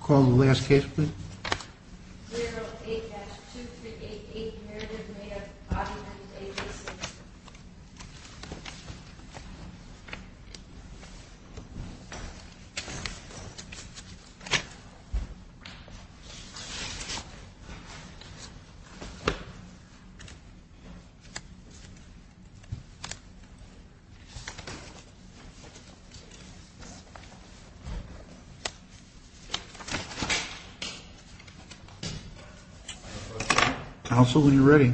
Call the last case please. Good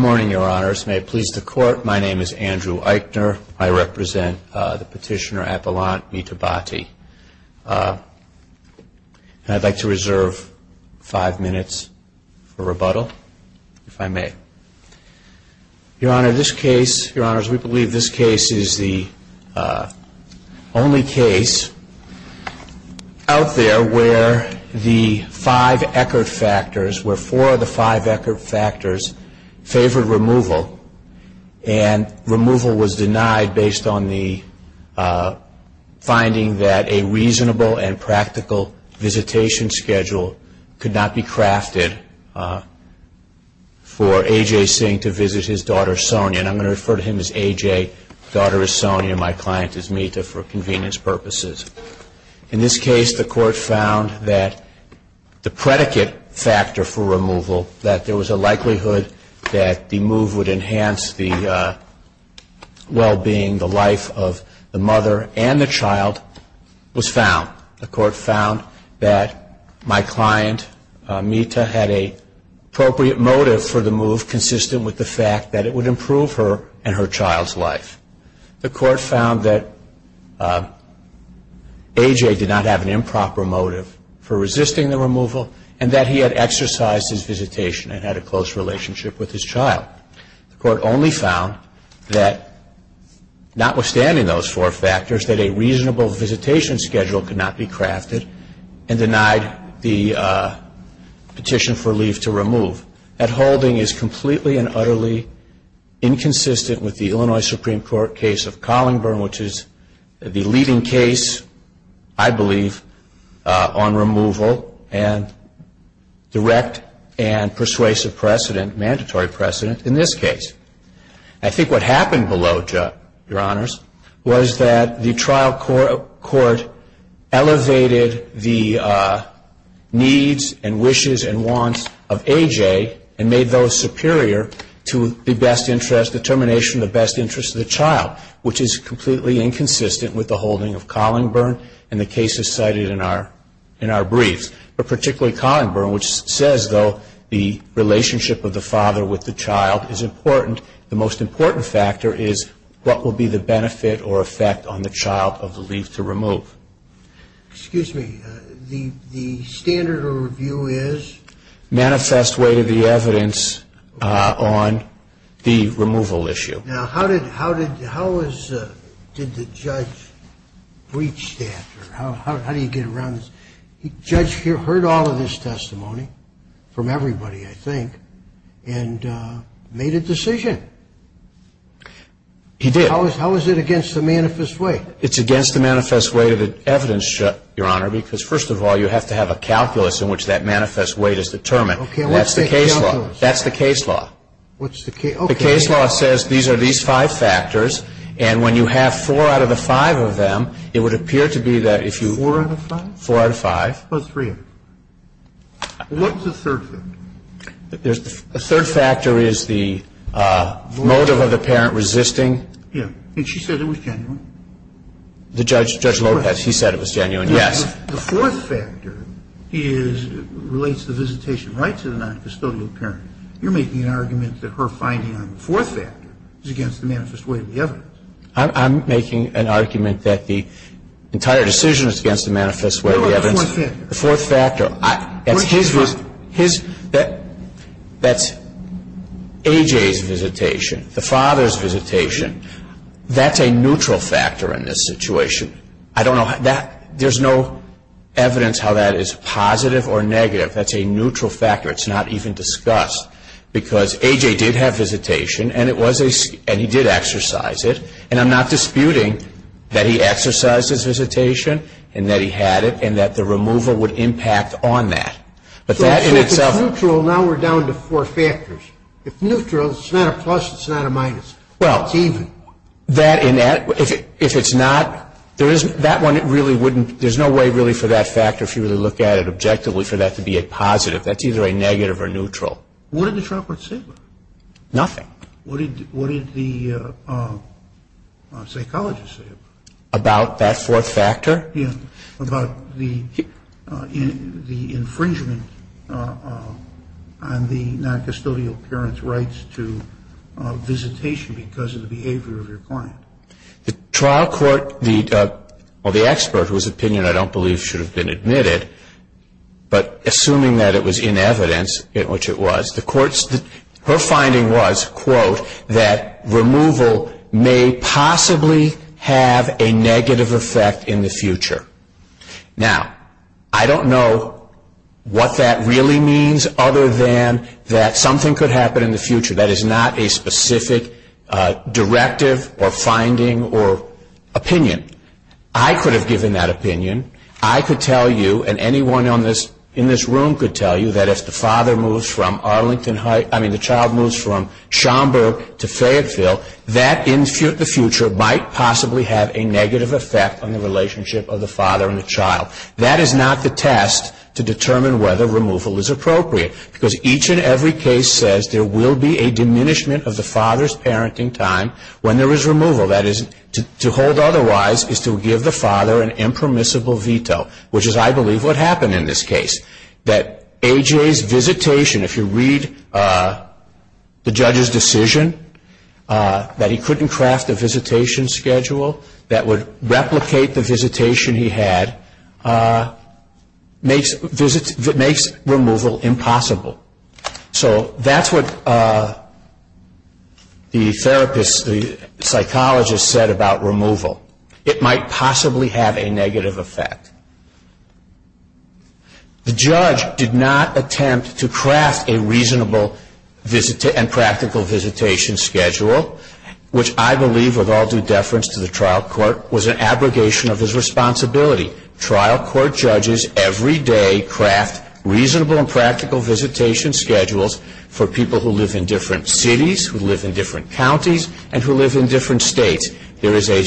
morning, Your Honors. May it please the Court, my name is Andrew Eichner. I represent the petitioner Apollon Mitabhati. And I'd like to reserve five minutes for rebuttal, if I may. Your Honor, this case, Your Honors, we believe this case is the only case out there where the five Eckert factors, where four of the five Eckert factors favored removal. And removal was denied based on the finding that a reasonable and practical visitation schedule could not be crafted for A.J. Singh to visit his daughter Sonia. And I'm going to refer to him as A.J., daughter is Sonia, my client is Mita for convenience purposes. In this case, the Court found that the predicate factor for removal, that there was a likelihood that the move would enhance the well-being, the life of the mother and the child was found. The Court found that my client, Mita, had an appropriate motive for the move consistent with the fact that it would improve her and her child's life. The Court found that A.J. did not have an improper motive for resisting the removal and that he had exercised his visitation and had a close relationship with his child. The Court only found that notwithstanding those four factors, that a reasonable visitation schedule could not be crafted and denied the petition for leave to remove. That holding is completely and utterly inconsistent with the Illinois Supreme Court case of Collingburn, which is the leading case, I believe, on removal and direct and persuasive precedent, mandatory precedent in this case. I think what happened below, Your Honors, was that the trial court elevated the needs and wishes and wants of A.J. and made those superior to the best interest determination, the best interest of the child, which is completely inconsistent with the holding of Collingburn and the cases cited in our briefs. But particularly Collingburn, which says, though, the relationship of the father with the child is important. The most important factor is what will be the benefit or effect on the child of the leave to remove. Excuse me. The standard of review is? Manifest way to the evidence on the removal issue. Now, how did the judge reach that? How do you get around this? The judge heard all of this testimony from everybody, I think, and made a decision. He did. How is it against the manifest way? It's against the manifest way to the evidence, Your Honor, because, first of all, you have to have a calculus in which that manifest way is determined. That's the case law. That's the case law. The case law says these are these five factors. And when you have four out of the five of them, it would appear to be that if you. Four out of five? Four out of five. Well, three of them. What's the third factor? The third factor is the motive of the parent resisting. Yeah. And she said it was genuine. The judge, Judge Lopez, he said it was genuine, yes. The fourth factor is, relates the visitation right to the noncustodial parent. You're making an argument that her finding on the fourth factor is against the manifest way of the evidence. I'm making an argument that the entire decision is against the manifest way of the evidence. What about the fourth factor? The fourth factor. That's his visitation. His. That's A.J.'s visitation, the father's visitation. That's a neutral factor in this situation. I don't know. There's no evidence how that is positive or negative. That's a neutral factor. It's not even discussed because A.J. did have visitation, and it was a, and he did exercise it, and I'm not disputing that he exercised his visitation and that he had it and that the removal would impact on that. But that in itself. So if it's neutral, now we're down to four factors. If neutral, it's not a plus, it's not a minus. Well. It's even. That, if it's not, there is, that one really wouldn't, there's no way really for that factor, if you really look at it objectively, for that to be a positive. That's either a negative or neutral. What did the trial court say about it? Nothing. What did the psychologist say about it? About that fourth factor? Yeah. About the infringement on the noncustodial parent's rights to visitation because of the behavior of your client. The trial court, well, the expert, whose opinion I don't believe should have been admitted, but assuming that it was in evidence, which it was, the court, her finding was, quote, that removal may possibly have a negative effect in the future. Now, I don't know what that really means other than that something could happen in the future. That is not a specific directive or finding or opinion. I could have given that opinion. I could tell you, and anyone in this room could tell you, that if the father moves from Arlington Heights, I mean the child moves from Schaumburg to Fayetteville, that in the future might possibly have a negative effect on the relationship of the father and the child. That is not the test to determine whether removal is appropriate because each and every case says there will be a diminishment of the father's parenting time when there is removal. That is, to hold otherwise is to give the father an impermissible veto, which is, I believe, what happened in this case. That A.J.'s visitation, if you read the judge's decision, that he couldn't craft a visitation schedule that would replicate the visitation he had, makes removal impossible. So that's what the therapist, the psychologist, said about removal. It might possibly have a negative effect. The judge did not attempt to craft a reasonable and practical visitation schedule, which I believe, with all due deference to the trial court, was an abrogation of his responsibility. Trial court judges every day craft reasonable and practical visitation schedules for people who live in different cities, who live in different counties, and who live in different states. There is a,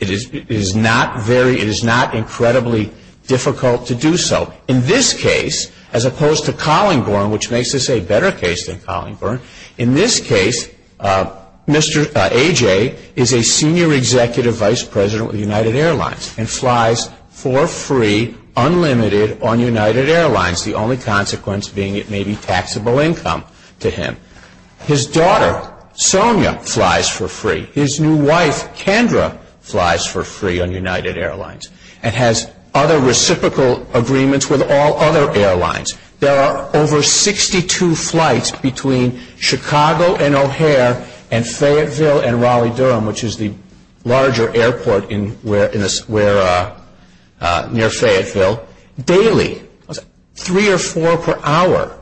it is not very, it is not incredibly difficult to do so. In this case, as opposed to Collingborn, which makes this a better case than Collingborn, in this case, Mr. A.J. is a senior executive vice president with United Airlines and flies for free, unlimited, on United Airlines, the only consequence being it may be taxable income to him. His daughter, Sonia, flies for free. His new wife, Kendra, flies for free on United Airlines and has other reciprocal agreements with all other airlines. There are over 62 flights between Chicago and O'Hare and Fayetteville and Raleigh-Durham, which is the larger airport near Fayetteville, daily, three or four per hour.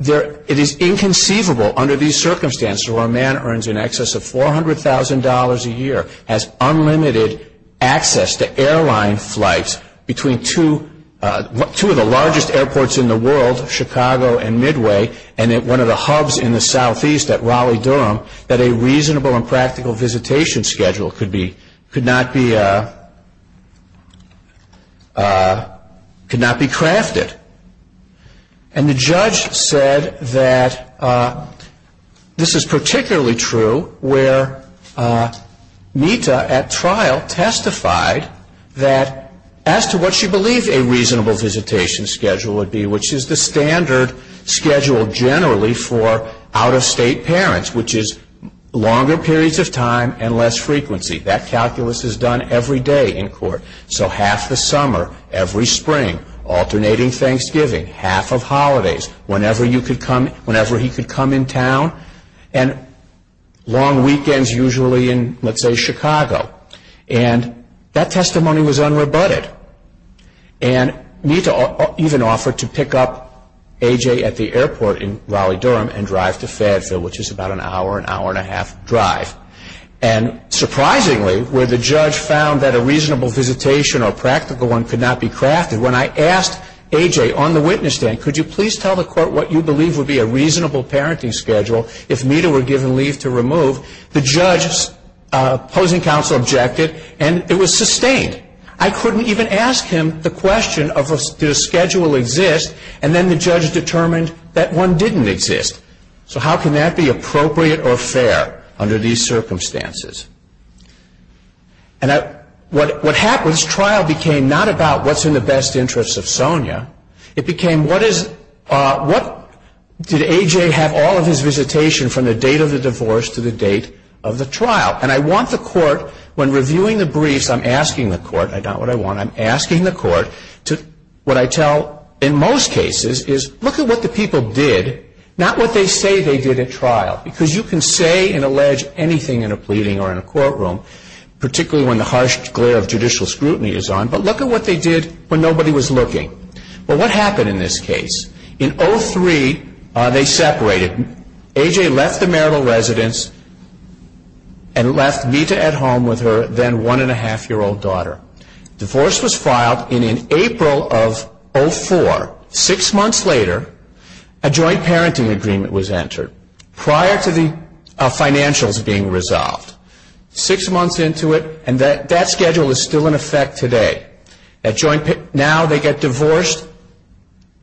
It is inconceivable under these circumstances where a man earns in excess of $400,000 a year, has unlimited access to airline flights between two of the largest airports in the world, Chicago and Midway, and at one of the hubs in the southeast at Raleigh-Durham, that a reasonable and practical visitation schedule could not be crafted. And the judge said that this is particularly true where Mita, at trial, testified that as to what she believed a reasonable visitation schedule would be, which is the standard schedule generally for out-of-state parents, which is longer periods of time and less frequency. That calculus is done every day in court. So half the summer, every spring, alternating Thanksgiving, half of holidays, whenever he could come in town, and long weekends usually in, let's say, Chicago. And that testimony was unrebutted. And Mita even offered to pick up A.J. at the airport in Raleigh-Durham and drive to Fayetteville, which is about an hour, an hour and a half drive. And surprisingly, where the judge found that a reasonable visitation or practical one could not be crafted, when I asked A.J. on the witness stand, could you please tell the court what you believe would be a reasonable parenting schedule if Mita were given leave to remove, the judge opposing counsel objected, and it was sustained. I couldn't even ask him the question of did a schedule exist, and then the judge determined that one didn't exist. So how can that be appropriate or fair under these circumstances? And what happens, trial became not about what's in the best interest of Sonia. It became what is, what, did A.J. have all of his visitation from the date of the divorce to the date of the trial? And I want the court, when reviewing the briefs, I'm asking the court, I got what I want, I'm asking the court to, what I tell in most cases is look at what the people did, not what they say they did at trial, because you can say and allege anything in a pleading or in a courtroom, particularly when the harsh glare of judicial scrutiny is on, but look at what they did when nobody was looking. Well, what happened in this case? In 03, they separated. A.J. left the marital residence and left Mita at home with her then one-and-a-half-year-old daughter. Divorce was filed in April of 04. Six months later, a joint parenting agreement was entered prior to the financials being resolved. Six months into it, and that schedule is still in effect today. Now they get divorced.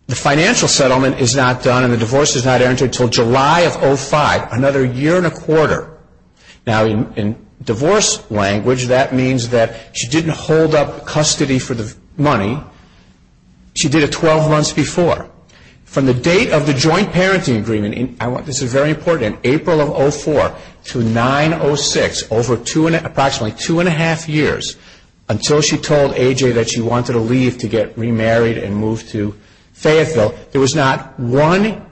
The financial settlement is not done and the divorce is not entered until July of 05, another year and a quarter. Now in divorce language, that means that she didn't hold up custody for the money. She did it 12 months before. From the date of the joint parenting agreement, this is very important, in April of 04 to 09-06, over approximately two-and-a-half years, until she told A.J. that she wanted to leave to get remarried and move to Fayetteville, there was not one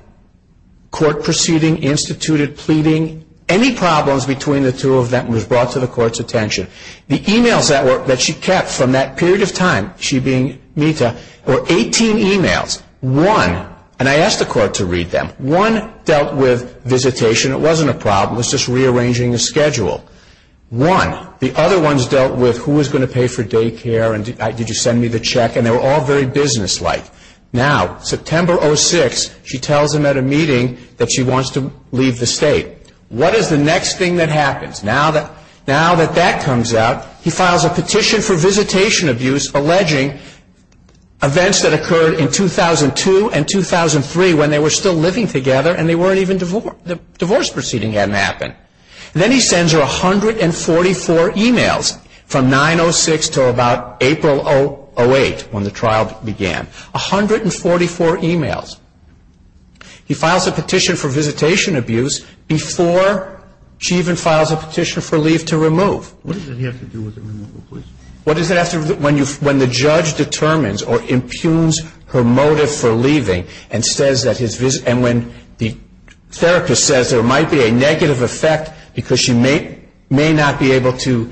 court proceeding instituted pleading. Any problems between the two of them was brought to the court's attention. The e-mails that she kept from that period of time, she being Mita, were 18 e-mails. One, and I asked the court to read them, one dealt with visitation. It wasn't a problem. It was just rearranging the schedule. One, the other ones dealt with who was going to pay for daycare and did you send me the check, and they were all very businesslike. Now, September 06, she tells him at a meeting that she wants to leave the state. What is the next thing that happens? Now that that comes out, he files a petition for visitation abuse, alleging events that occurred in 2002 and 2003 when they were still living together and the divorce proceeding hadn't happened. Then he sends her 144 e-mails from 09-06 to about April 08, when the trial began. A hundred and forty-four e-mails. He files a petition for visitation abuse before she even files a petition for leave to remove. What does that have to do with the removal, please? What does that have to do when the judge determines or impugns her motive for leaving and when the therapist says there might be a negative effect because she may not be able to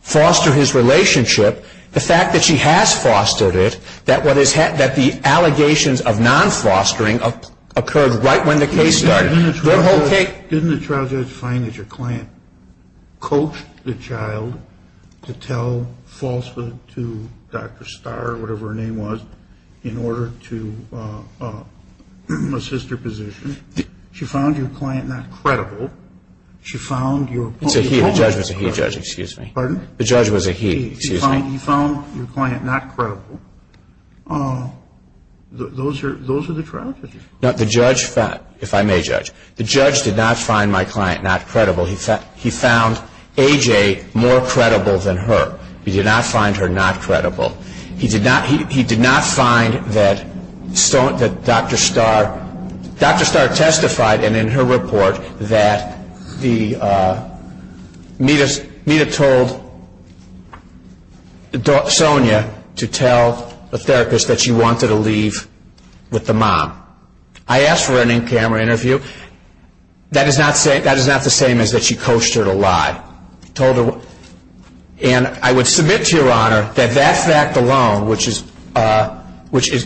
foster his relationship, the fact that she has fostered it, that the allegations of non-fostering occurred right when the case started. Didn't the trial judge find that your client coached the child to tell falsehood to Dr. Starr or whatever her name was in order to assist her position? She found your client not credible. She found your... It's a he, the judge was a he, excuse me. Pardon? The judge was a he, excuse me. He found your client not credible. Those are the trial judges. No, the judge found, if I may judge, the judge did not find my client not credible. He found A.J. more credible than her. He did not find her not credible. He did not find that Dr. Starr testified, and in her report, that Mita told Sonia to tell the therapist that she wanted to leave with the mom. I asked for an in-camera interview. That is not the same as that she coached her to lie. And I would submit to Your Honor that that fact alone, which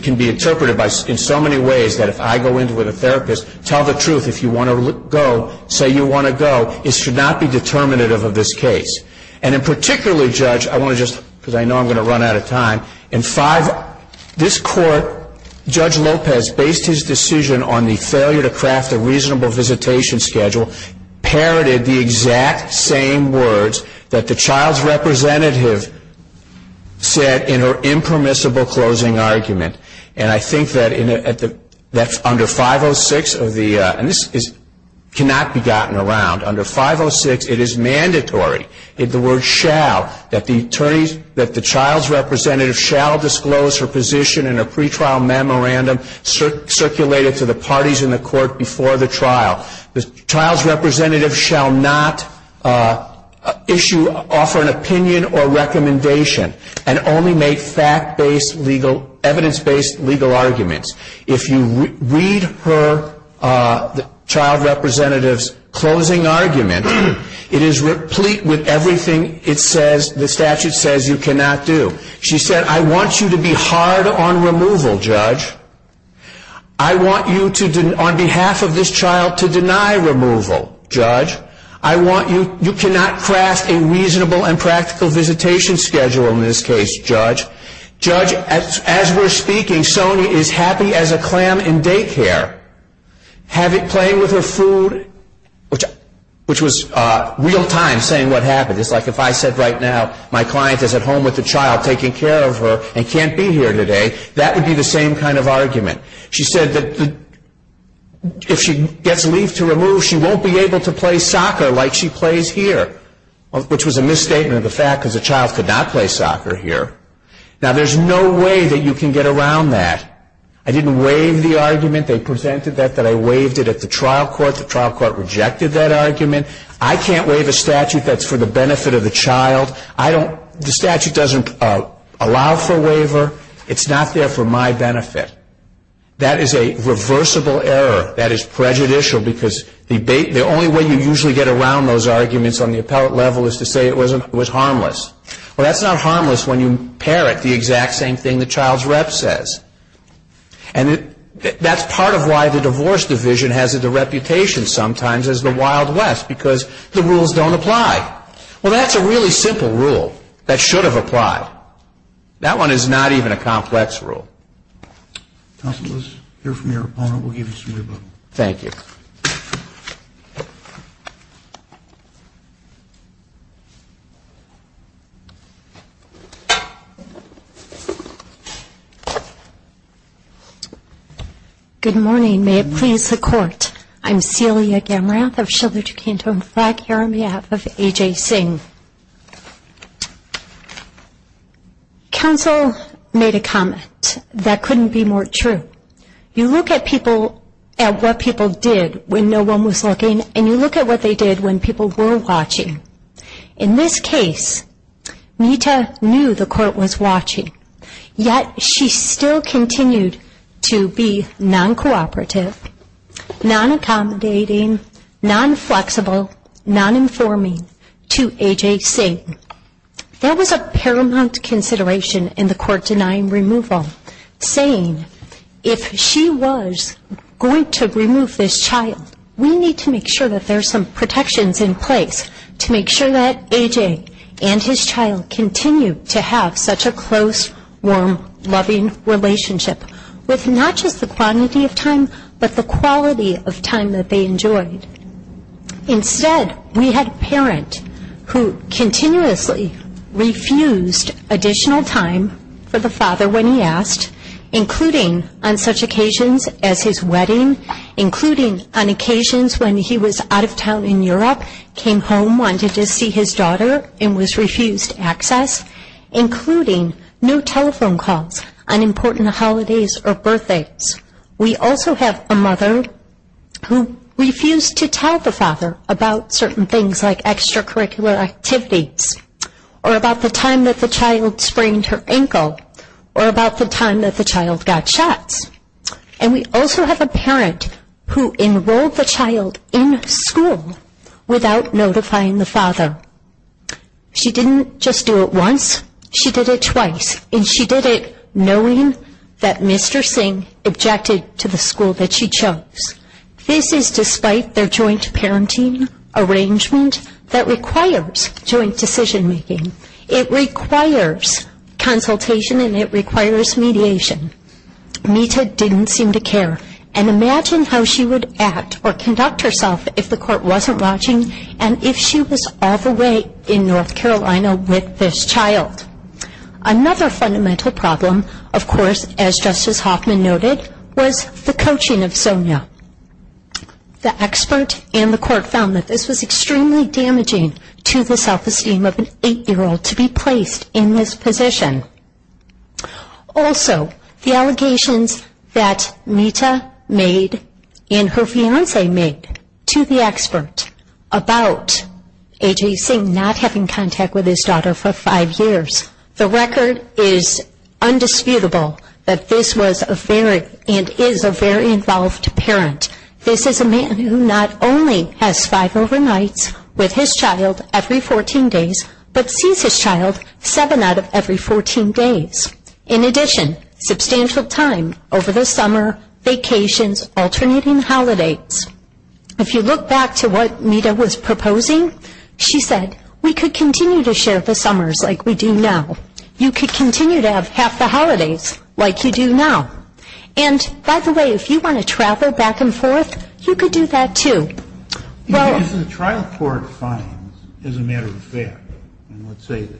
can be interpreted in so many ways that if I go in with a therapist, tell the truth, if you want to go, say you want to go, it should not be determinative of this case. And in particular, Judge, I want to just, because I know I'm going to run out of time, in 5, this court, Judge Lopez based his decision on the failure to craft a reasonable visitation schedule, parroted the exact same words that the child's representative said in her impermissible closing argument. And I think that under 506, and this cannot be gotten around, under 506, it is mandatory, the word shall, that the child's representative shall disclose her position in a pretrial memorandum circulated to the parties in the court before the trial. The child's representative shall not issue, offer an opinion or recommendation and only make fact-based legal, evidence-based legal arguments. If you read her, the child's representative's closing argument, it is replete with everything it says, the statute says you cannot do. She said, I want you to be hard on removal, Judge. I want you to, on behalf of this child, to deny removal, Judge. I want you, you cannot craft a reasonable and practical visitation schedule in this case, Judge. Judge, as we're speaking, Sonia is happy as a clam in daycare. Playing with her food, which was real-time saying what happened, it's like if I said right now my client is at home with the child, taking care of her, and can't be here today, that would be the same kind of argument. She said that if she gets leave to remove, she won't be able to play soccer like she plays here, which was a misstatement of the fact because the child could not play soccer here. Now, there's no way that you can get around that. I didn't waive the argument. They presented that, that I waived it at the trial court. The trial court rejected that argument. I can't waive a statute that's for the benefit of the child. I don't, the statute doesn't allow for waiver. It's not there for my benefit. That is a reversible error. That is prejudicial because the only way you usually get around those arguments on the appellate level is to say it was harmless. Well, that's not harmless when you parrot the exact same thing the child's rep says. And that's part of why the divorce division has the reputation sometimes as the Wild West because the rules don't apply. Well, that's a really simple rule that should have applied. That one is not even a complex rule. Counsel, let's hear from your opponent. We'll give you some new book. Thank you. Good morning. May it please the Court. I'm Celia Gamrath. I'm shoulder to canton flag here on behalf of A.J. Singh. Counsel made a comment that couldn't be more true. You look at people, at what people did when no one was looking, and you look at what they did when people were watching. In this case, Nita knew the court was watching, yet she still continued to be non-cooperative, non-accommodating, non-flexible, non-informing to A.J. Singh. There was a paramount consideration in the court denying removal, saying if she was going to remove this child, we need to make sure that there's some protections in place to make sure that A.J. and his child continue to have such a close, warm, loving relationship, with not just the quantity of time, but the quality of time that they enjoyed. Instead, we had a parent who continuously refused additional time for the father when he asked, including on such occasions as his wedding, including on occasions when he was out of town in Europe, came home, wanted to see his daughter, and was refused access, including no telephone calls on important holidays or birthdays. We also have a mother who refused to tell the father about certain things, like extracurricular activities, or about the time that the child sprained her ankle, or about the time that the child got shots. And we also have a parent who enrolled the child in school without notifying the father. She didn't just do it once. She did it twice, and she did it knowing that Mr. Singh objected to the school that she chose. This is despite their joint parenting arrangement that requires joint decision-making. It requires consultation, and it requires mediation. Mita didn't seem to care. And imagine how she would act or conduct herself if the court wasn't watching and if she was all the way in North Carolina with this child. Another fundamental problem, of course, as Justice Hoffman noted, was the coaching of Sonia. The expert and the court found that this was extremely damaging to the self-esteem of an 8-year-old to be placed in this position. Also, the allegations that Mita made and her fiancé made to the expert about A.J. Singh not having contact with his daughter for five years, the record is undisputable that this was and is a very involved parent. This is a man who not only has five overnights with his child every 14 days, but sees his child seven out of every 14 days. In addition, substantial time over the summer, vacations, alternating holidays. If you look back to what Mita was proposing, she said, we could continue to share the summers like we do now. You could continue to have half the holidays like you do now. And, by the way, if you want to travel back and forth, you could do that too. If the trial court finds, as a matter of fact, and let's say that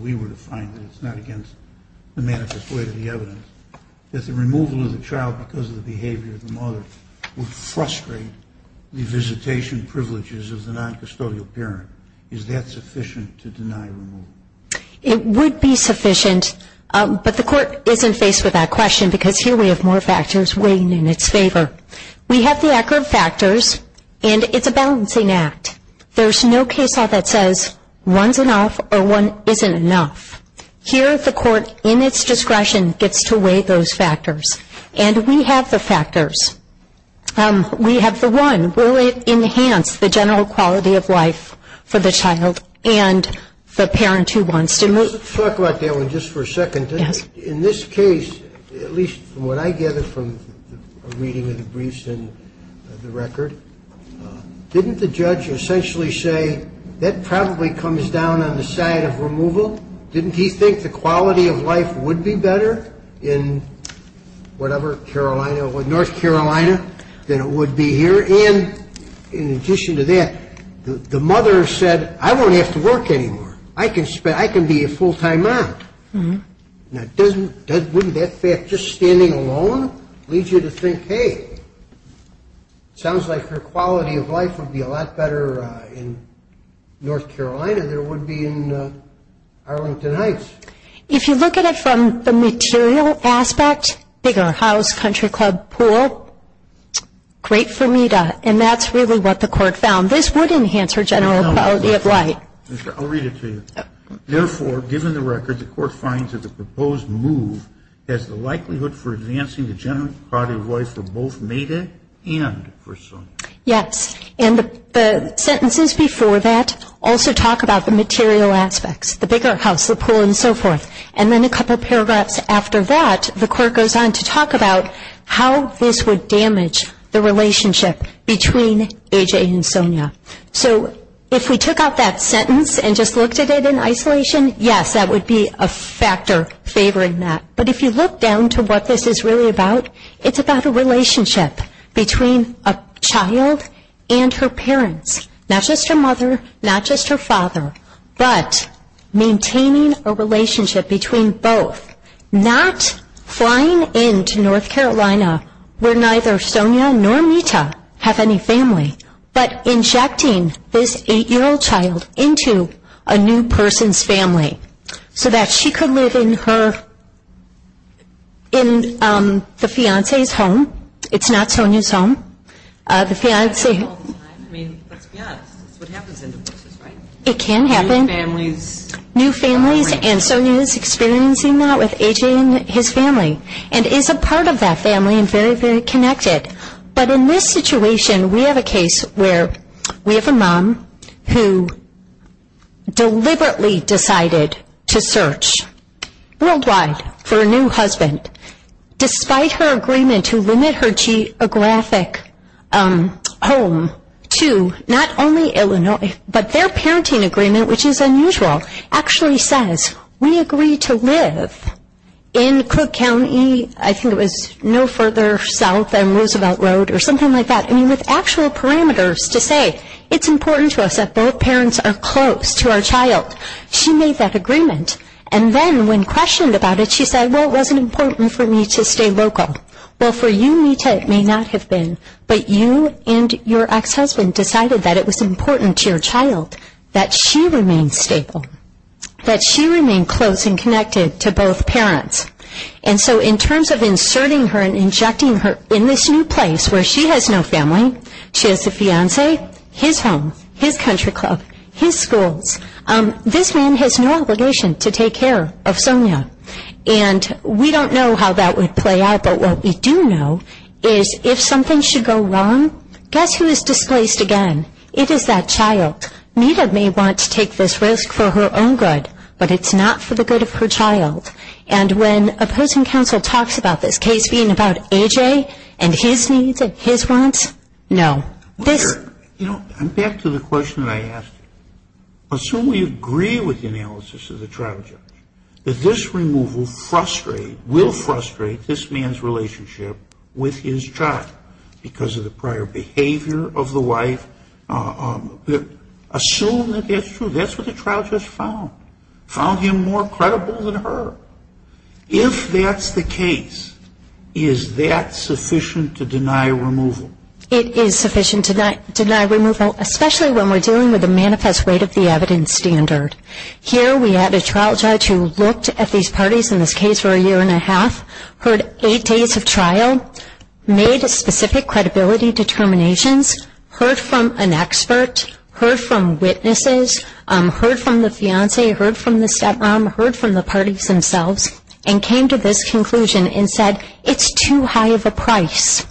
we were to find that it's not against the manifest way of the evidence, that the removal of the child because of the behavior of the mother would frustrate the visitation privileges of the noncustodial parent, is that sufficient to deny removal? It would be sufficient, but the court isn't faced with that question because here we have more factors weighing in its favor. We have the accurate factors, and it's a balancing act. There's no case law that says one's enough or one isn't enough. Here the court, in its discretion, gets to weigh those factors. And we have the factors. We have the one. Will it enhance the general quality of life for the child and the parent who wants to move? Let's talk about that one just for a second. Yes. In this case, at least from what I gather from a reading of the briefs and the record, didn't the judge essentially say that probably comes down on the side of removal? Didn't he think the quality of life would be better in whatever, North Carolina, than it would be here? And in addition to that, the mother said, I won't have to work anymore. I can be a full-time mom. Now, wouldn't that fact just standing alone lead you to think, hey, sounds like her quality of life would be a lot better in North Carolina than it would be in Arlington Heights? If you look at it from the material aspect, bigger house, country club, pool, great for Mita. And that's really what the court found. This would enhance her general quality of life. I'll read it to you. Therefore, given the record, the court finds that the proposed move has the likelihood for advancing the general quality of life for both Mita and for Sonia. Yes, and the sentences before that also talk about the material aspects, the bigger house, the pool, and so forth. And then a couple paragraphs after that, the court goes on to talk about how this would damage the relationship between A.J. and Sonia. So if we took out that sentence and just looked at it in isolation, yes, that would be a factor favoring that. But if you look down to what this is really about, it's about a relationship between a child and her parents, not just her mother, not just her father, but maintaining a relationship between both. Not flying into North Carolina where neither Sonia nor Mita have any family, but injecting this 8-year-old child into a new person's family so that she could live in her, in the fiancé's home. It's not Sonia's home. The fiancé. I mean, that's what happens in divorces, right? It can happen. New families. New families, and Sonia is experiencing that with A.J. and his family and is a part of that family and very, very connected. But in this situation, we have a case where we have a mom who deliberately decided to search worldwide for a new husband, despite her agreement to limit her geographic home to not only Illinois, but their parenting agreement, which is unusual, actually says, we agree to live in Cook County. I think it was no further south than Roosevelt Road or something like that. I mean, with actual parameters to say it's important to us that both parents are close to our child. She made that agreement, and then when questioned about it, she said, well, it wasn't important for me to stay local. Well, for you, Mita, it may not have been, but you and your ex-husband decided that it was important to your child that she remain stable, that she remain close and connected to both parents. And so in terms of inserting her and injecting her in this new place where she has no family, she has a fiancé, his home, his country club, his schools, this man has no obligation to take care of Sonia. And we don't know how that would play out, but what we do know is if something should go wrong, guess who is displaced again? It is that child. Mita may want to take this risk for her own good, but it's not for the good of her child. And when opposing counsel talks about this case being about AJ and his needs and his wants, no. I'm back to the question that I asked. Assume we agree with the analysis of the trial judge, that this removal will frustrate this man's relationship with his child because of the prior behavior of the wife. Assume that that's true. That's what the trial judge found, found him more credible than her. If that's the case, is that sufficient to deny removal? It is sufficient to deny removal, especially when we're dealing with the manifest weight of the evidence standard. Here we have a trial judge who looked at these parties in this case for a year and a half, heard eight days of trial, made specific credibility determinations, heard from an expert, heard from witnesses, heard from the fiance, heard from the stepmom, heard from the parties themselves, and came to this conclusion and said, it's too high of a price.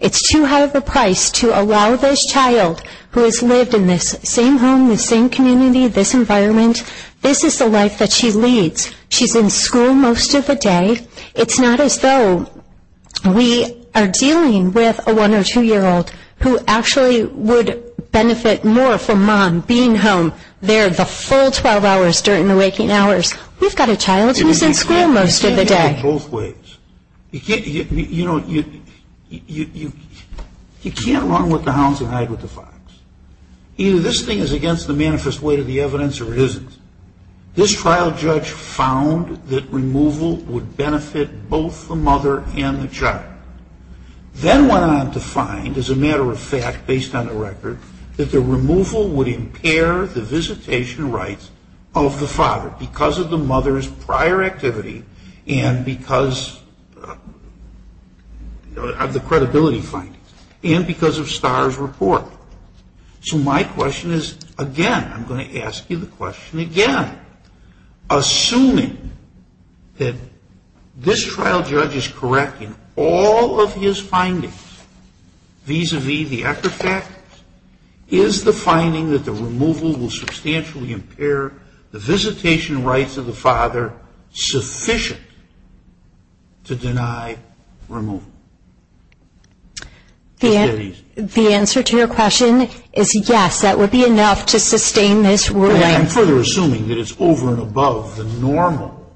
It's too high of a price to allow this child who has lived in this same home, this same community, this environment, this is the life that she leads. She's in school most of the day. It's not as though we are dealing with a one- or two-year-old who actually would benefit more from mom being home there the full 12 hours during the waking hours. We've got a child who's in school most of the day. You can't do it both ways. You can't run with the hounds and hide with the fox. Either this thing is against the manifest weight of the evidence or it isn't. This trial judge found that removal would benefit both the mother and the child. Then went on to find, as a matter of fact, based on the record, that the removal would impair the visitation rights of the father because of the mother's prior activity and because of the credibility findings and because of Starr's report. So my question is, again, I'm going to ask you the question again. Assuming that this trial judge is correct in all of his findings vis-a-vis the Ecker fact, is the finding that the removal will substantially impair the visitation rights of the father sufficient to deny removal? The answer to your question is yes, that would be enough to sustain this ruling. I'm further assuming that it's over and above the normal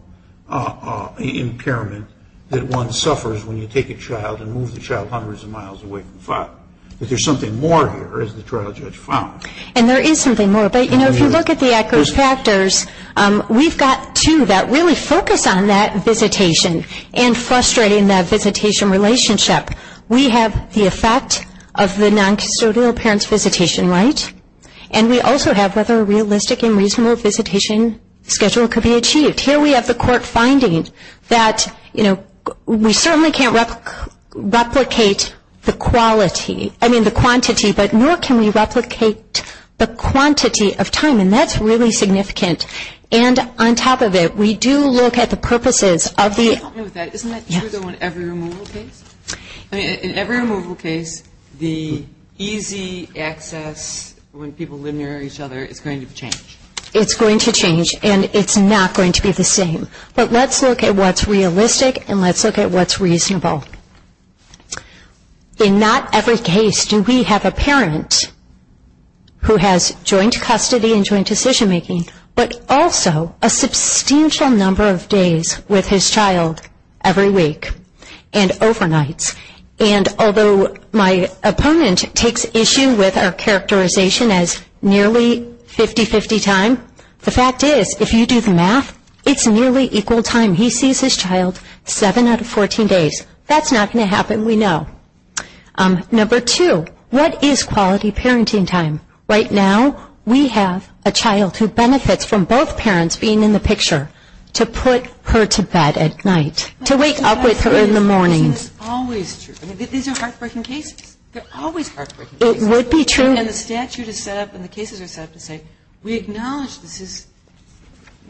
impairment that one suffers when you take a child and move the child hundreds of miles away from the father. But there's something more here, as the trial judge found. And there is something more. But, you know, if you look at the Ecker's factors, we've got two that really focus on that visitation and frustrating that visitation relationship. We have the effect of the noncustodial parent's visitation right, and we also have whether a realistic and reasonable visitation schedule could be achieved. Here we have the court finding that, you know, we certainly can't replicate the quality, I mean the quantity, but nor can we replicate the quantity of time. And that's really significant. And on top of it, we do look at the purposes of the... Isn't that true though in every removal case? In every removal case, the easy access when people live near each other is going to change. It's going to change. And it's not going to be the same. But let's look at what's realistic and let's look at what's reasonable. In not every case do we have a parent who has joint custody and joint decision making, but also a substantial number of days with his child every week and overnights. And although my opponent takes issue with our characterization as nearly 50-50 time, the fact is if you do the math, it's nearly equal time. He sees his child seven out of 14 days. That's not going to happen, we know. Number two, what is quality parenting time? Right now we have a child who benefits from both parents being in the picture to put her to bed at night, to wake up with her in the morning. This is always true. These are heartbreaking cases. They're always heartbreaking cases. It would be true. And the statute is set up and the cases are set up to say we acknowledge this is,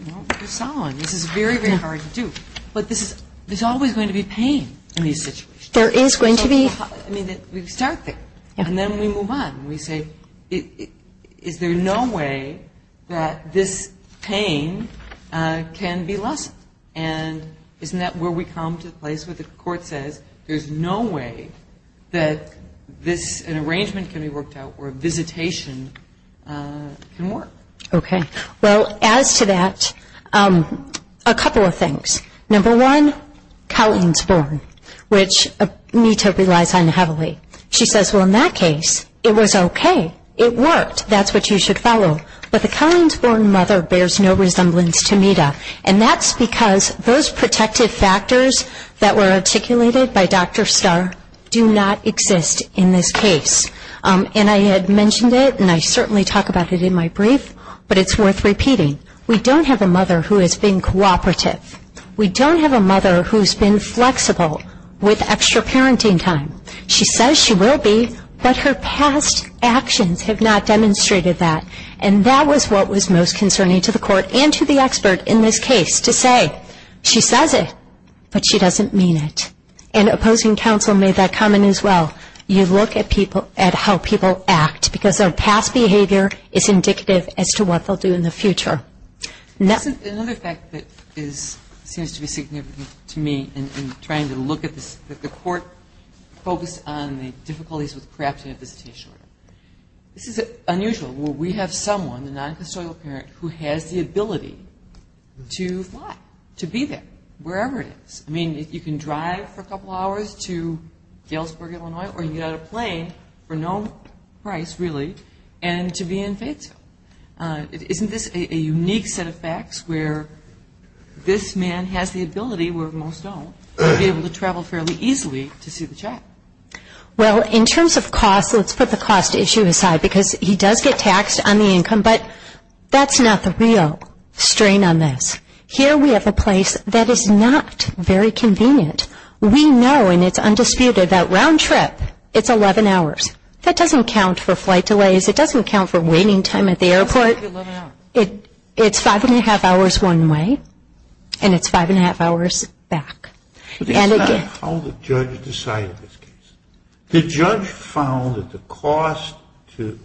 you know, this is very, very hard to do. But there's always going to be pain in these situations. There is going to be. I mean, we start there. And then we move on. We say is there no way that this pain can be lessened? And isn't that where we come to the place where the court says there's no way that this, an arrangement can be worked out where visitation can work? Okay. Well, as to that, a couple of things. Number one, Colleen's born, which Mita relies on heavily. She says, well, in that case, it was okay. It worked. That's what you should follow. But the Colleen's born mother bears no resemblance to Mita. And that's because those protective factors that were articulated by Dr. Starr do not exist in this case. And I had mentioned it, and I certainly talk about it in my brief, but it's worth repeating. We don't have a mother who has been cooperative. We don't have a mother who's been flexible with extra parenting time. She says she will be, but her past actions have not demonstrated that. And that was what was most concerning to the court and to the expert in this case, to say she says it, but she doesn't mean it. And opposing counsel made that comment as well. You look at how people act because their past behavior is indicative as to what they'll do in the future. Another fact that seems to be significant to me in trying to look at this, that the court focused on the difficulties with crafting a visitation order. This is unusual. We have someone, a non-custodial parent, who has the ability to fly, to be there, wherever it is. I mean, you can drive for a couple hours to Galesburg, Illinois, or you get on a plane for no price, really, and to be in Fayetteville. Isn't this a unique set of facts where this man has the ability, where most don't, to be able to travel fairly easily to see the child? Well, in terms of cost, let's put the cost issue aside, because he does get taxed on the income, but that's not the real strain on this. Here we have a place that is not very convenient. We know, and it's undisputed, that round-trip, it's 11 hours. That doesn't count for flight delays. It doesn't count for waiting time at the airport. It's 5 1⁄2 hours one way, and it's 5 1⁄2 hours back. This is not how the judge decided this case. The judge found that the cost to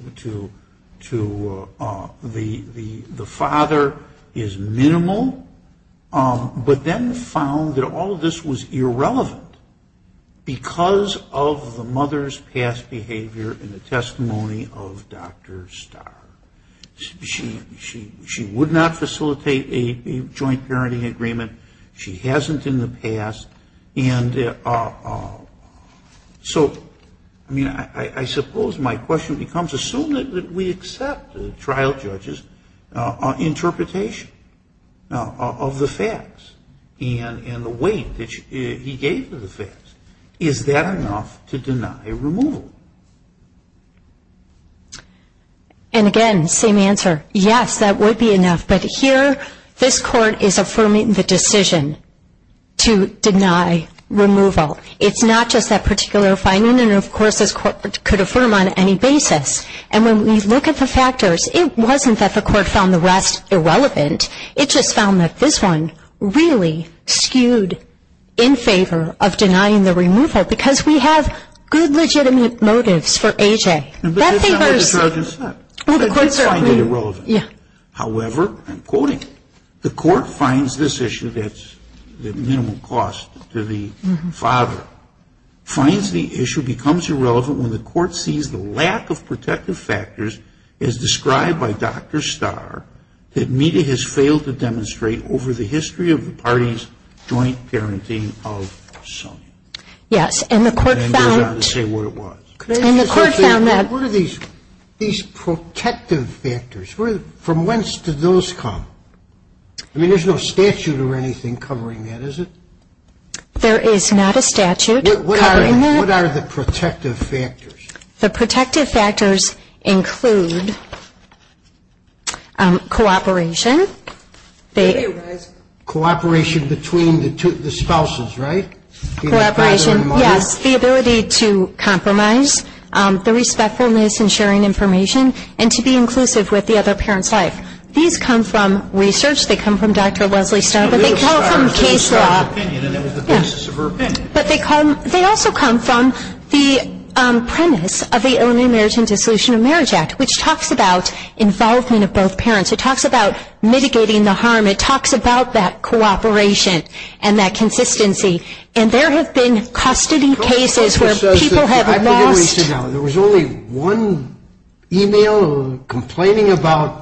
the father is minimal, but then found that all of this was irrelevant because of the mother's past behavior in the testimony of Dr. Starr. She would not facilitate a joint parenting agreement. She hasn't in the past. And so, I mean, I suppose my question becomes, assume that we accept the trial judge's interpretation of the facts and the weight that he gave to the facts, is that enough to deny removal? And again, same answer, yes, that would be enough. But here, this court is affirming the decision to deny removal. It's not just that particular finding. And, of course, this court could affirm on any basis. And when we look at the factors, it wasn't that the court found the rest irrelevant. It just found that this one really skewed in favor of denying the removal because we have good legitimate motives for AJ. But that's not what the trial judge said. They did find it irrelevant. However, I'm quoting, the court finds this issue that's the minimum cost to the father, finds the issue becomes irrelevant when the court sees the lack of protective factors as described by Dr. Starr that Mita has failed to demonstrate over the history of the party's joint parenting of Sonya. Yes, and the court found that. What are these protective factors? From whence do those come? I mean, there's no statute or anything covering that, is it? There is not a statute covering that. What are the protective factors? The protective factors include cooperation. Cooperation between the spouses, right? Yes, the ability to compromise. The respectfulness in sharing information and to be inclusive with the other parent's life. These come from research. They come from Dr. Leslie Starr. But they come from case law. But they also come from the premise of the Illinois Marriage and Dissolution of Marriage Act, which talks about involvement of both parents. It talks about mitigating the harm. It talks about that cooperation and that consistency. And there have been custody cases where people have lost. There was only one e-mail complaining about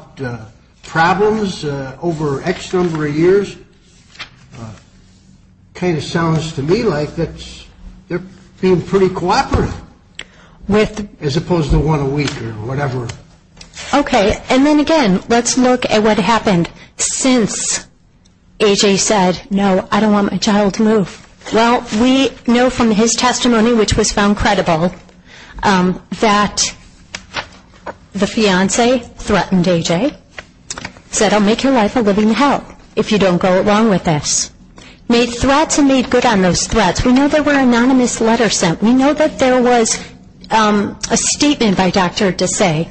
problems over X number of years. Kind of sounds to me like they're being pretty cooperative as opposed to one a week or whatever. Okay, and then again, let's look at what happened since A.J. said, No, I don't want my child to move. Well, we know from his testimony, which was found credible, that the fiancee threatened A.J., said, I'll make your life a living hell if you don't go along with this. Made threats and made good on those threats. We know there were anonymous letters sent. We know that there was a statement by Dr. Desai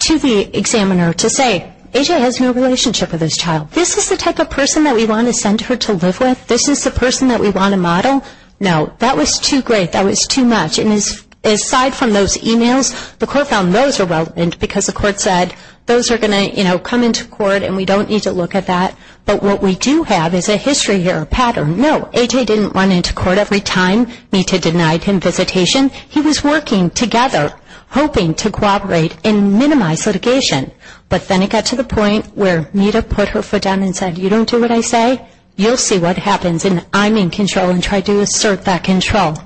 to the examiner to say, A.J. has no relationship with this child. This is the type of person that we want to send her to live with? This is the person that we want to model? No, that was too great. That was too much. And aside from those e-mails, the court found those irrelevant because the court said, those are going to come into court and we don't need to look at that. But what we do have is a history here, a pattern. No, A.J. didn't run into court every time Mita denied him visitation. He was working together, hoping to cooperate and minimize litigation. But then it got to the point where Mita put her foot down and said, you don't do what I say, you'll see what happens, and I'm in control and try to assert that control.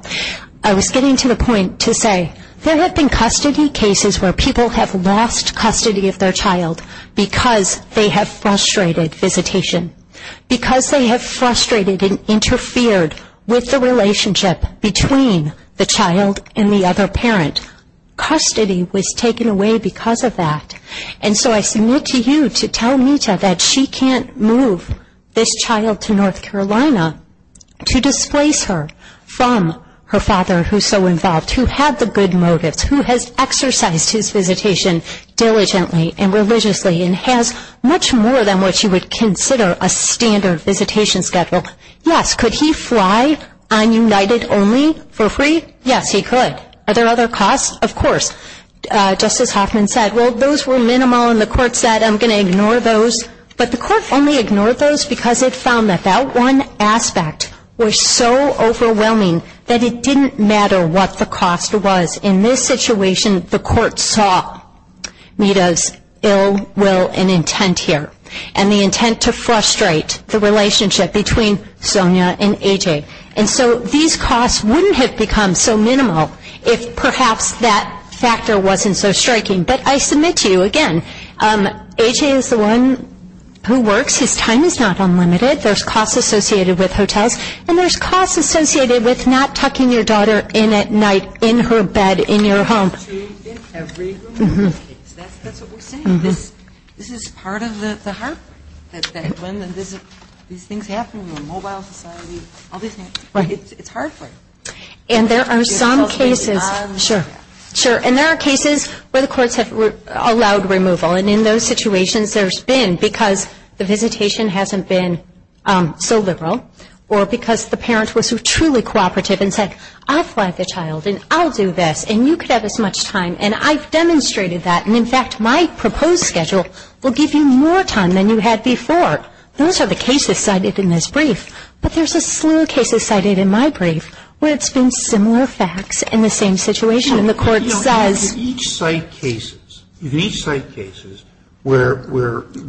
I was getting to the point to say, there have been custody cases where people have lost custody of their child because they have frustrated visitation, because they have frustrated and interfered with the relationship between the child and the other parent. Custody was taken away because of that. And so I submit to you to tell Mita that she can't move this child to North Carolina to displace her from her father who is so involved, who had the good motives, who has exercised his visitation diligently and religiously and has much more than what you would consider a standard visitation schedule. Yes, could he fly on United only for free? Yes, he could. Are there other costs? Of course. Justice Hoffman said, well, those were minimal, and the court said, I'm going to ignore those. But the court only ignored those because it found that that one aspect was so overwhelming that it didn't matter what the cost was. In this situation, the court saw Mita's ill will and intent here, and the intent to frustrate the relationship between Sonia and A.J. And so these costs wouldn't have become so minimal if perhaps that factor wasn't so striking. But I submit to you, again, A.J. is the one who works. His time is not unlimited. There's costs associated with hotels, and there's costs associated with not tucking your daughter in at night in her bed in your home. That's what we're saying. This is part of the heart. These things happen in a mobile society. It's hard for you. And there are some cases. Sure. And there are cases where the courts have allowed removal, and in those situations there's been because the visitation hasn't been so liberal or because the parent was truly cooperative and said, I'll fly the child, and I'll do this, and you could have as much time, and I've demonstrated that. And in fact, my proposed schedule will give you more time than you had before. Those are the cases cited in this brief. But there's a slew of cases cited in my brief where it's been similar facts in the same situation, and the court says ---- You know, in each site cases, in each site cases where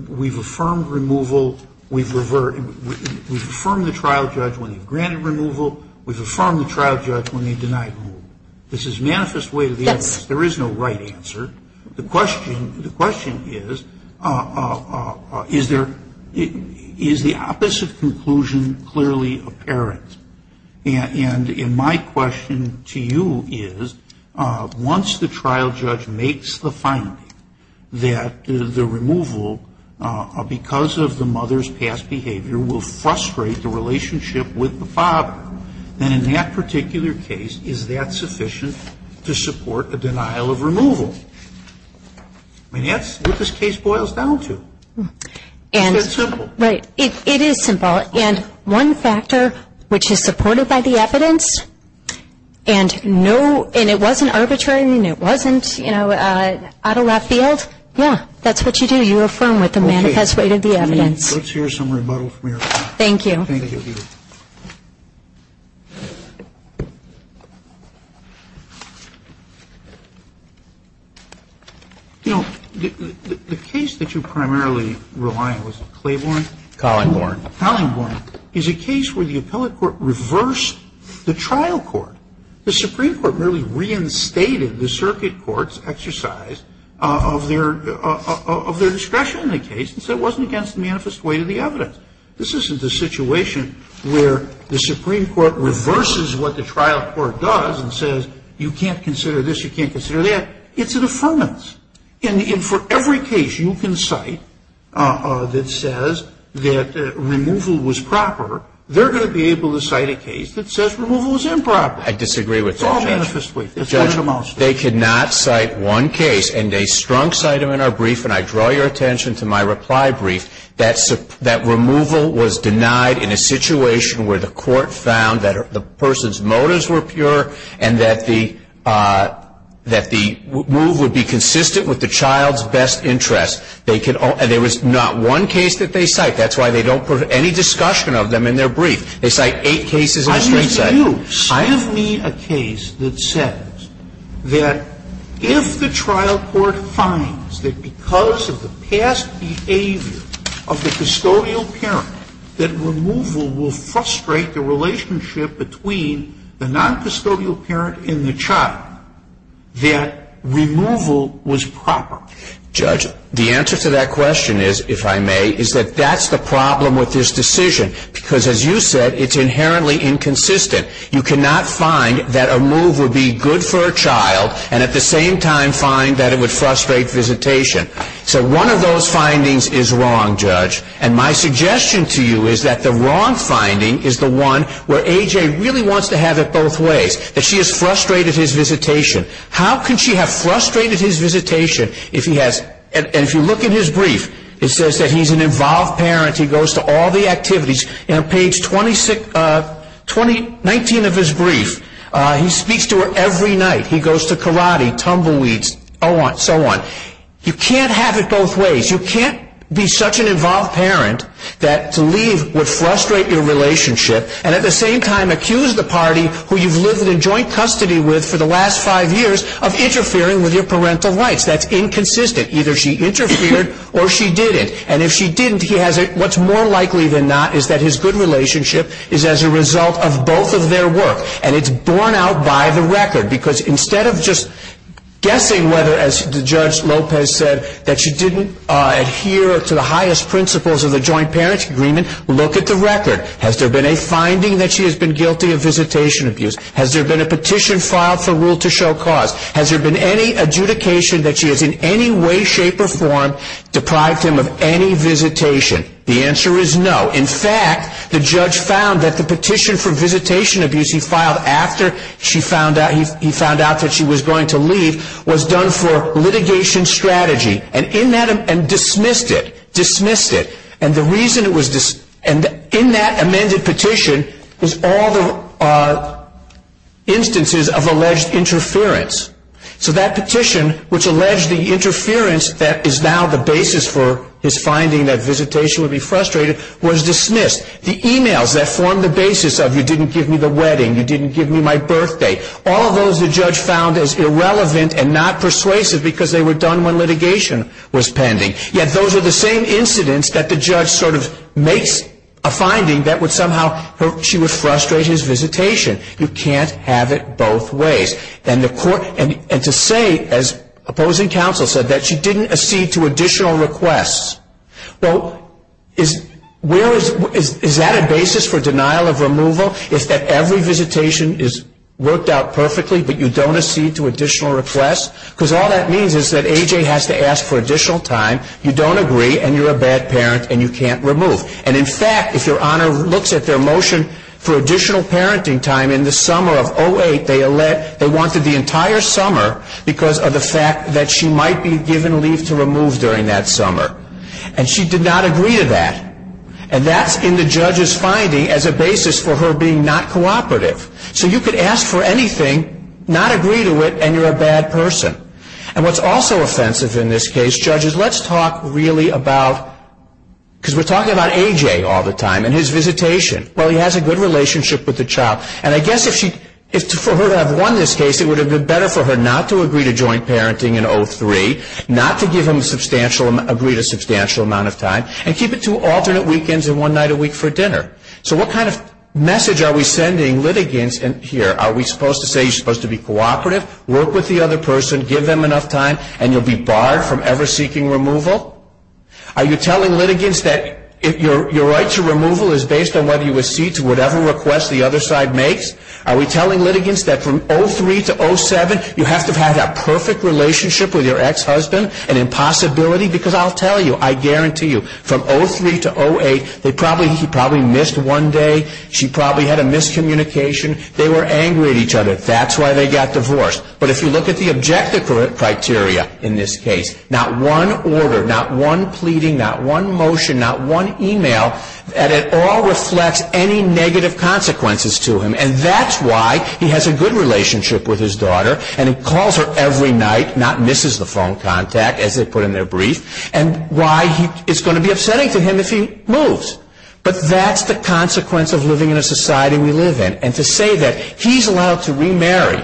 we've affirmed removal, we've reverted, we've affirmed the trial judge when he granted removal, we've affirmed the trial judge when he denied removal. This is manifest way to the evidence. There is no right answer. The question is, is there ---- is the opposite conclusion clearly apparent? And my question to you is, once the trial judge makes the finding that the removal, because of the mother's past behavior, will frustrate the relationship with the father, then in that particular case, is that sufficient to support a denial of removal? I mean, that's what this case boils down to. It's that simple. Right. It is simple. And one factor which is supported by the evidence, and no ---- and it wasn't arbitrary, and it wasn't out of left field, yeah, that's what you do. You affirm with the manifest way to the evidence. Okay. Let's hear some rebuttal from your side. Thank you. Thank you. You know, the case that you primarily rely on, was it Claiborne? Collingborn. Collingborn is a case where the appellate court reversed the trial court. The Supreme Court merely reinstated the circuit court's exercise of their ---- of their discretion in the case and said it wasn't against the manifest way to the evidence. This isn't the situation where the Supreme Court reverses what the trial court does and says you can't consider this, you can't consider that. It's an affirmance. And for every case you can cite that says that removal was proper, they're going to be able to cite a case that says removal was improper. I disagree with that, Judge. It's all manifest way. Judge, they could not cite one case, and they strong cited them in our brief, and I draw your attention to my reply brief, that removal was denied in a situation where the court found that the person's motives were pure and that the move would be consistent with the child's best interest. They could all ---- and there was not one case that they cite. That's why they don't put any discussion of them in their brief. They cite eight cases and a strong cite. I have me a case that says that if the trial court finds that because of the past behavior of the custodial parent that removal will frustrate the relationship between the noncustodial parent and the child, that removal was proper. Judge, the answer to that question is, if I may, is that that's the problem with this decision because, as you said, it's inherently inconsistent. You cannot find that a move would be good for a child and at the same time find that it would frustrate visitation. So one of those findings is wrong, Judge, and my suggestion to you is that the wrong finding is the one where A.J. really wants to have it both ways, that she has frustrated his visitation. How can she have frustrated his visitation if he has ---- and if you look in his brief, it says that he's an involved parent. He goes to all the activities. On page 19 of his brief, he speaks to her every night. He goes to karate, tumbleweeds, so on. You can't have it both ways. You can't be such an involved parent that to leave would frustrate your relationship and at the same time accuse the party who you've lived in joint custody with for the last five years of interfering with your parental rights. That's inconsistent. Either she interfered or she didn't. And if she didn't, what's more likely than not is that his good relationship is as a result of both of their work. And it's borne out by the record because instead of just guessing whether, as Judge Lopez said, that she didn't adhere to the highest principles of the joint parent agreement, look at the record. Has there been a finding that she has been guilty of visitation abuse? Has there been a petition filed for rule to show cause? Has there been any adjudication that she has in any way, shape, or form deprived him of any visitation? The answer is no. In fact, the judge found that the petition for visitation abuse he filed after he found out that she was going to leave was done for litigation strategy and dismissed it. Dismissed it. And in that amended petition is all the instances of alleged interference. So that petition which alleged the interference that is now the basis for his finding that visitation would be frustrated was dismissed. The e-mails that formed the basis of you didn't give me the wedding, you didn't give me my birthday. All of those the judge found as irrelevant and not persuasive because they were done when litigation was pending. Yet those are the same incidents that the judge sort of makes a finding that somehow she would frustrate his visitation. You can't have it both ways. And to say, as opposing counsel said, that she didn't accede to additional requests. Well, is that a basis for denial of removal? Is that every visitation is worked out perfectly but you don't accede to additional requests? Because all that means is that A.J. has to ask for additional time. You don't agree and you're a bad parent and you can't remove. And in fact, if your honor looks at their motion for additional parenting time in the summer of 08, they wanted the entire summer because of the fact that she might be given leave to remove during that summer. And she did not agree to that. And that's in the judge's finding as a basis for her being not cooperative. So you could ask for anything, not agree to it, and you're a bad person. And what's also offensive in this case, judges, let's talk really about, because we're talking about A.J. all the time and his visitation. Well, he has a good relationship with the child. And I guess for her to have won this case, it would have been better for her not to agree to joint parenting in 03, not to agree to a substantial amount of time, and keep it to alternate weekends and one night a week for dinner. So what kind of message are we sending litigants here? Are we supposed to say you're supposed to be cooperative, work with the other person, give them enough time, and you'll be barred from ever seeking removal? Are you telling litigants that your right to removal is based on whether you accede to whatever request the other side makes? Are we telling litigants that from 03 to 07, you have to have had a perfect relationship with your ex-husband, an impossibility? Because I'll tell you, I guarantee you, from 03 to 08, he probably missed one day. She probably had a miscommunication. They were angry at each other. That's why they got divorced. But if you look at the objective criteria in this case, not one order, not one pleading, not one motion, not one email, and it all reflects any negative consequences to him. And that's why he has a good relationship with his daughter. And he calls her every night, not misses the phone contact, as they put in their brief, and why it's going to be upsetting to him if he moves. But that's the consequence of living in a society we live in. And to say that he's allowed to remarry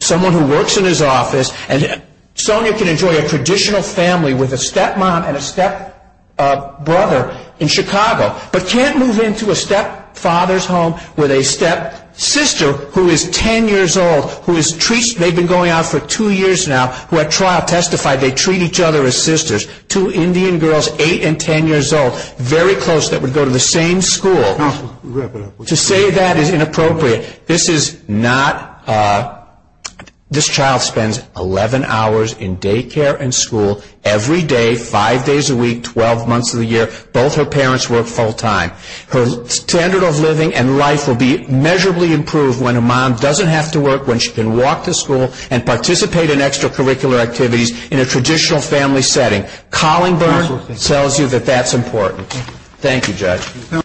someone who works in his office, and Sonia can enjoy a traditional family with a stepmom and a stepbrother in Chicago, but can't move into a stepfather's home with a stepsister who is 10 years old, who has been going out for two years now, who at trial testified they treat each other as sisters, two Indian girls, 8 and 10 years old, very close, that would go to the same school. To say that is inappropriate. This child spends 11 hours in daycare and school every day, five days a week, 12 months of the year. Both her parents work full time. Her standard of living and life will be measurably improved when a mom doesn't have to work, when she can walk to school and participate in extracurricular activities in a traditional family setting. Collingburn tells you that that's important. Thank you, Judge.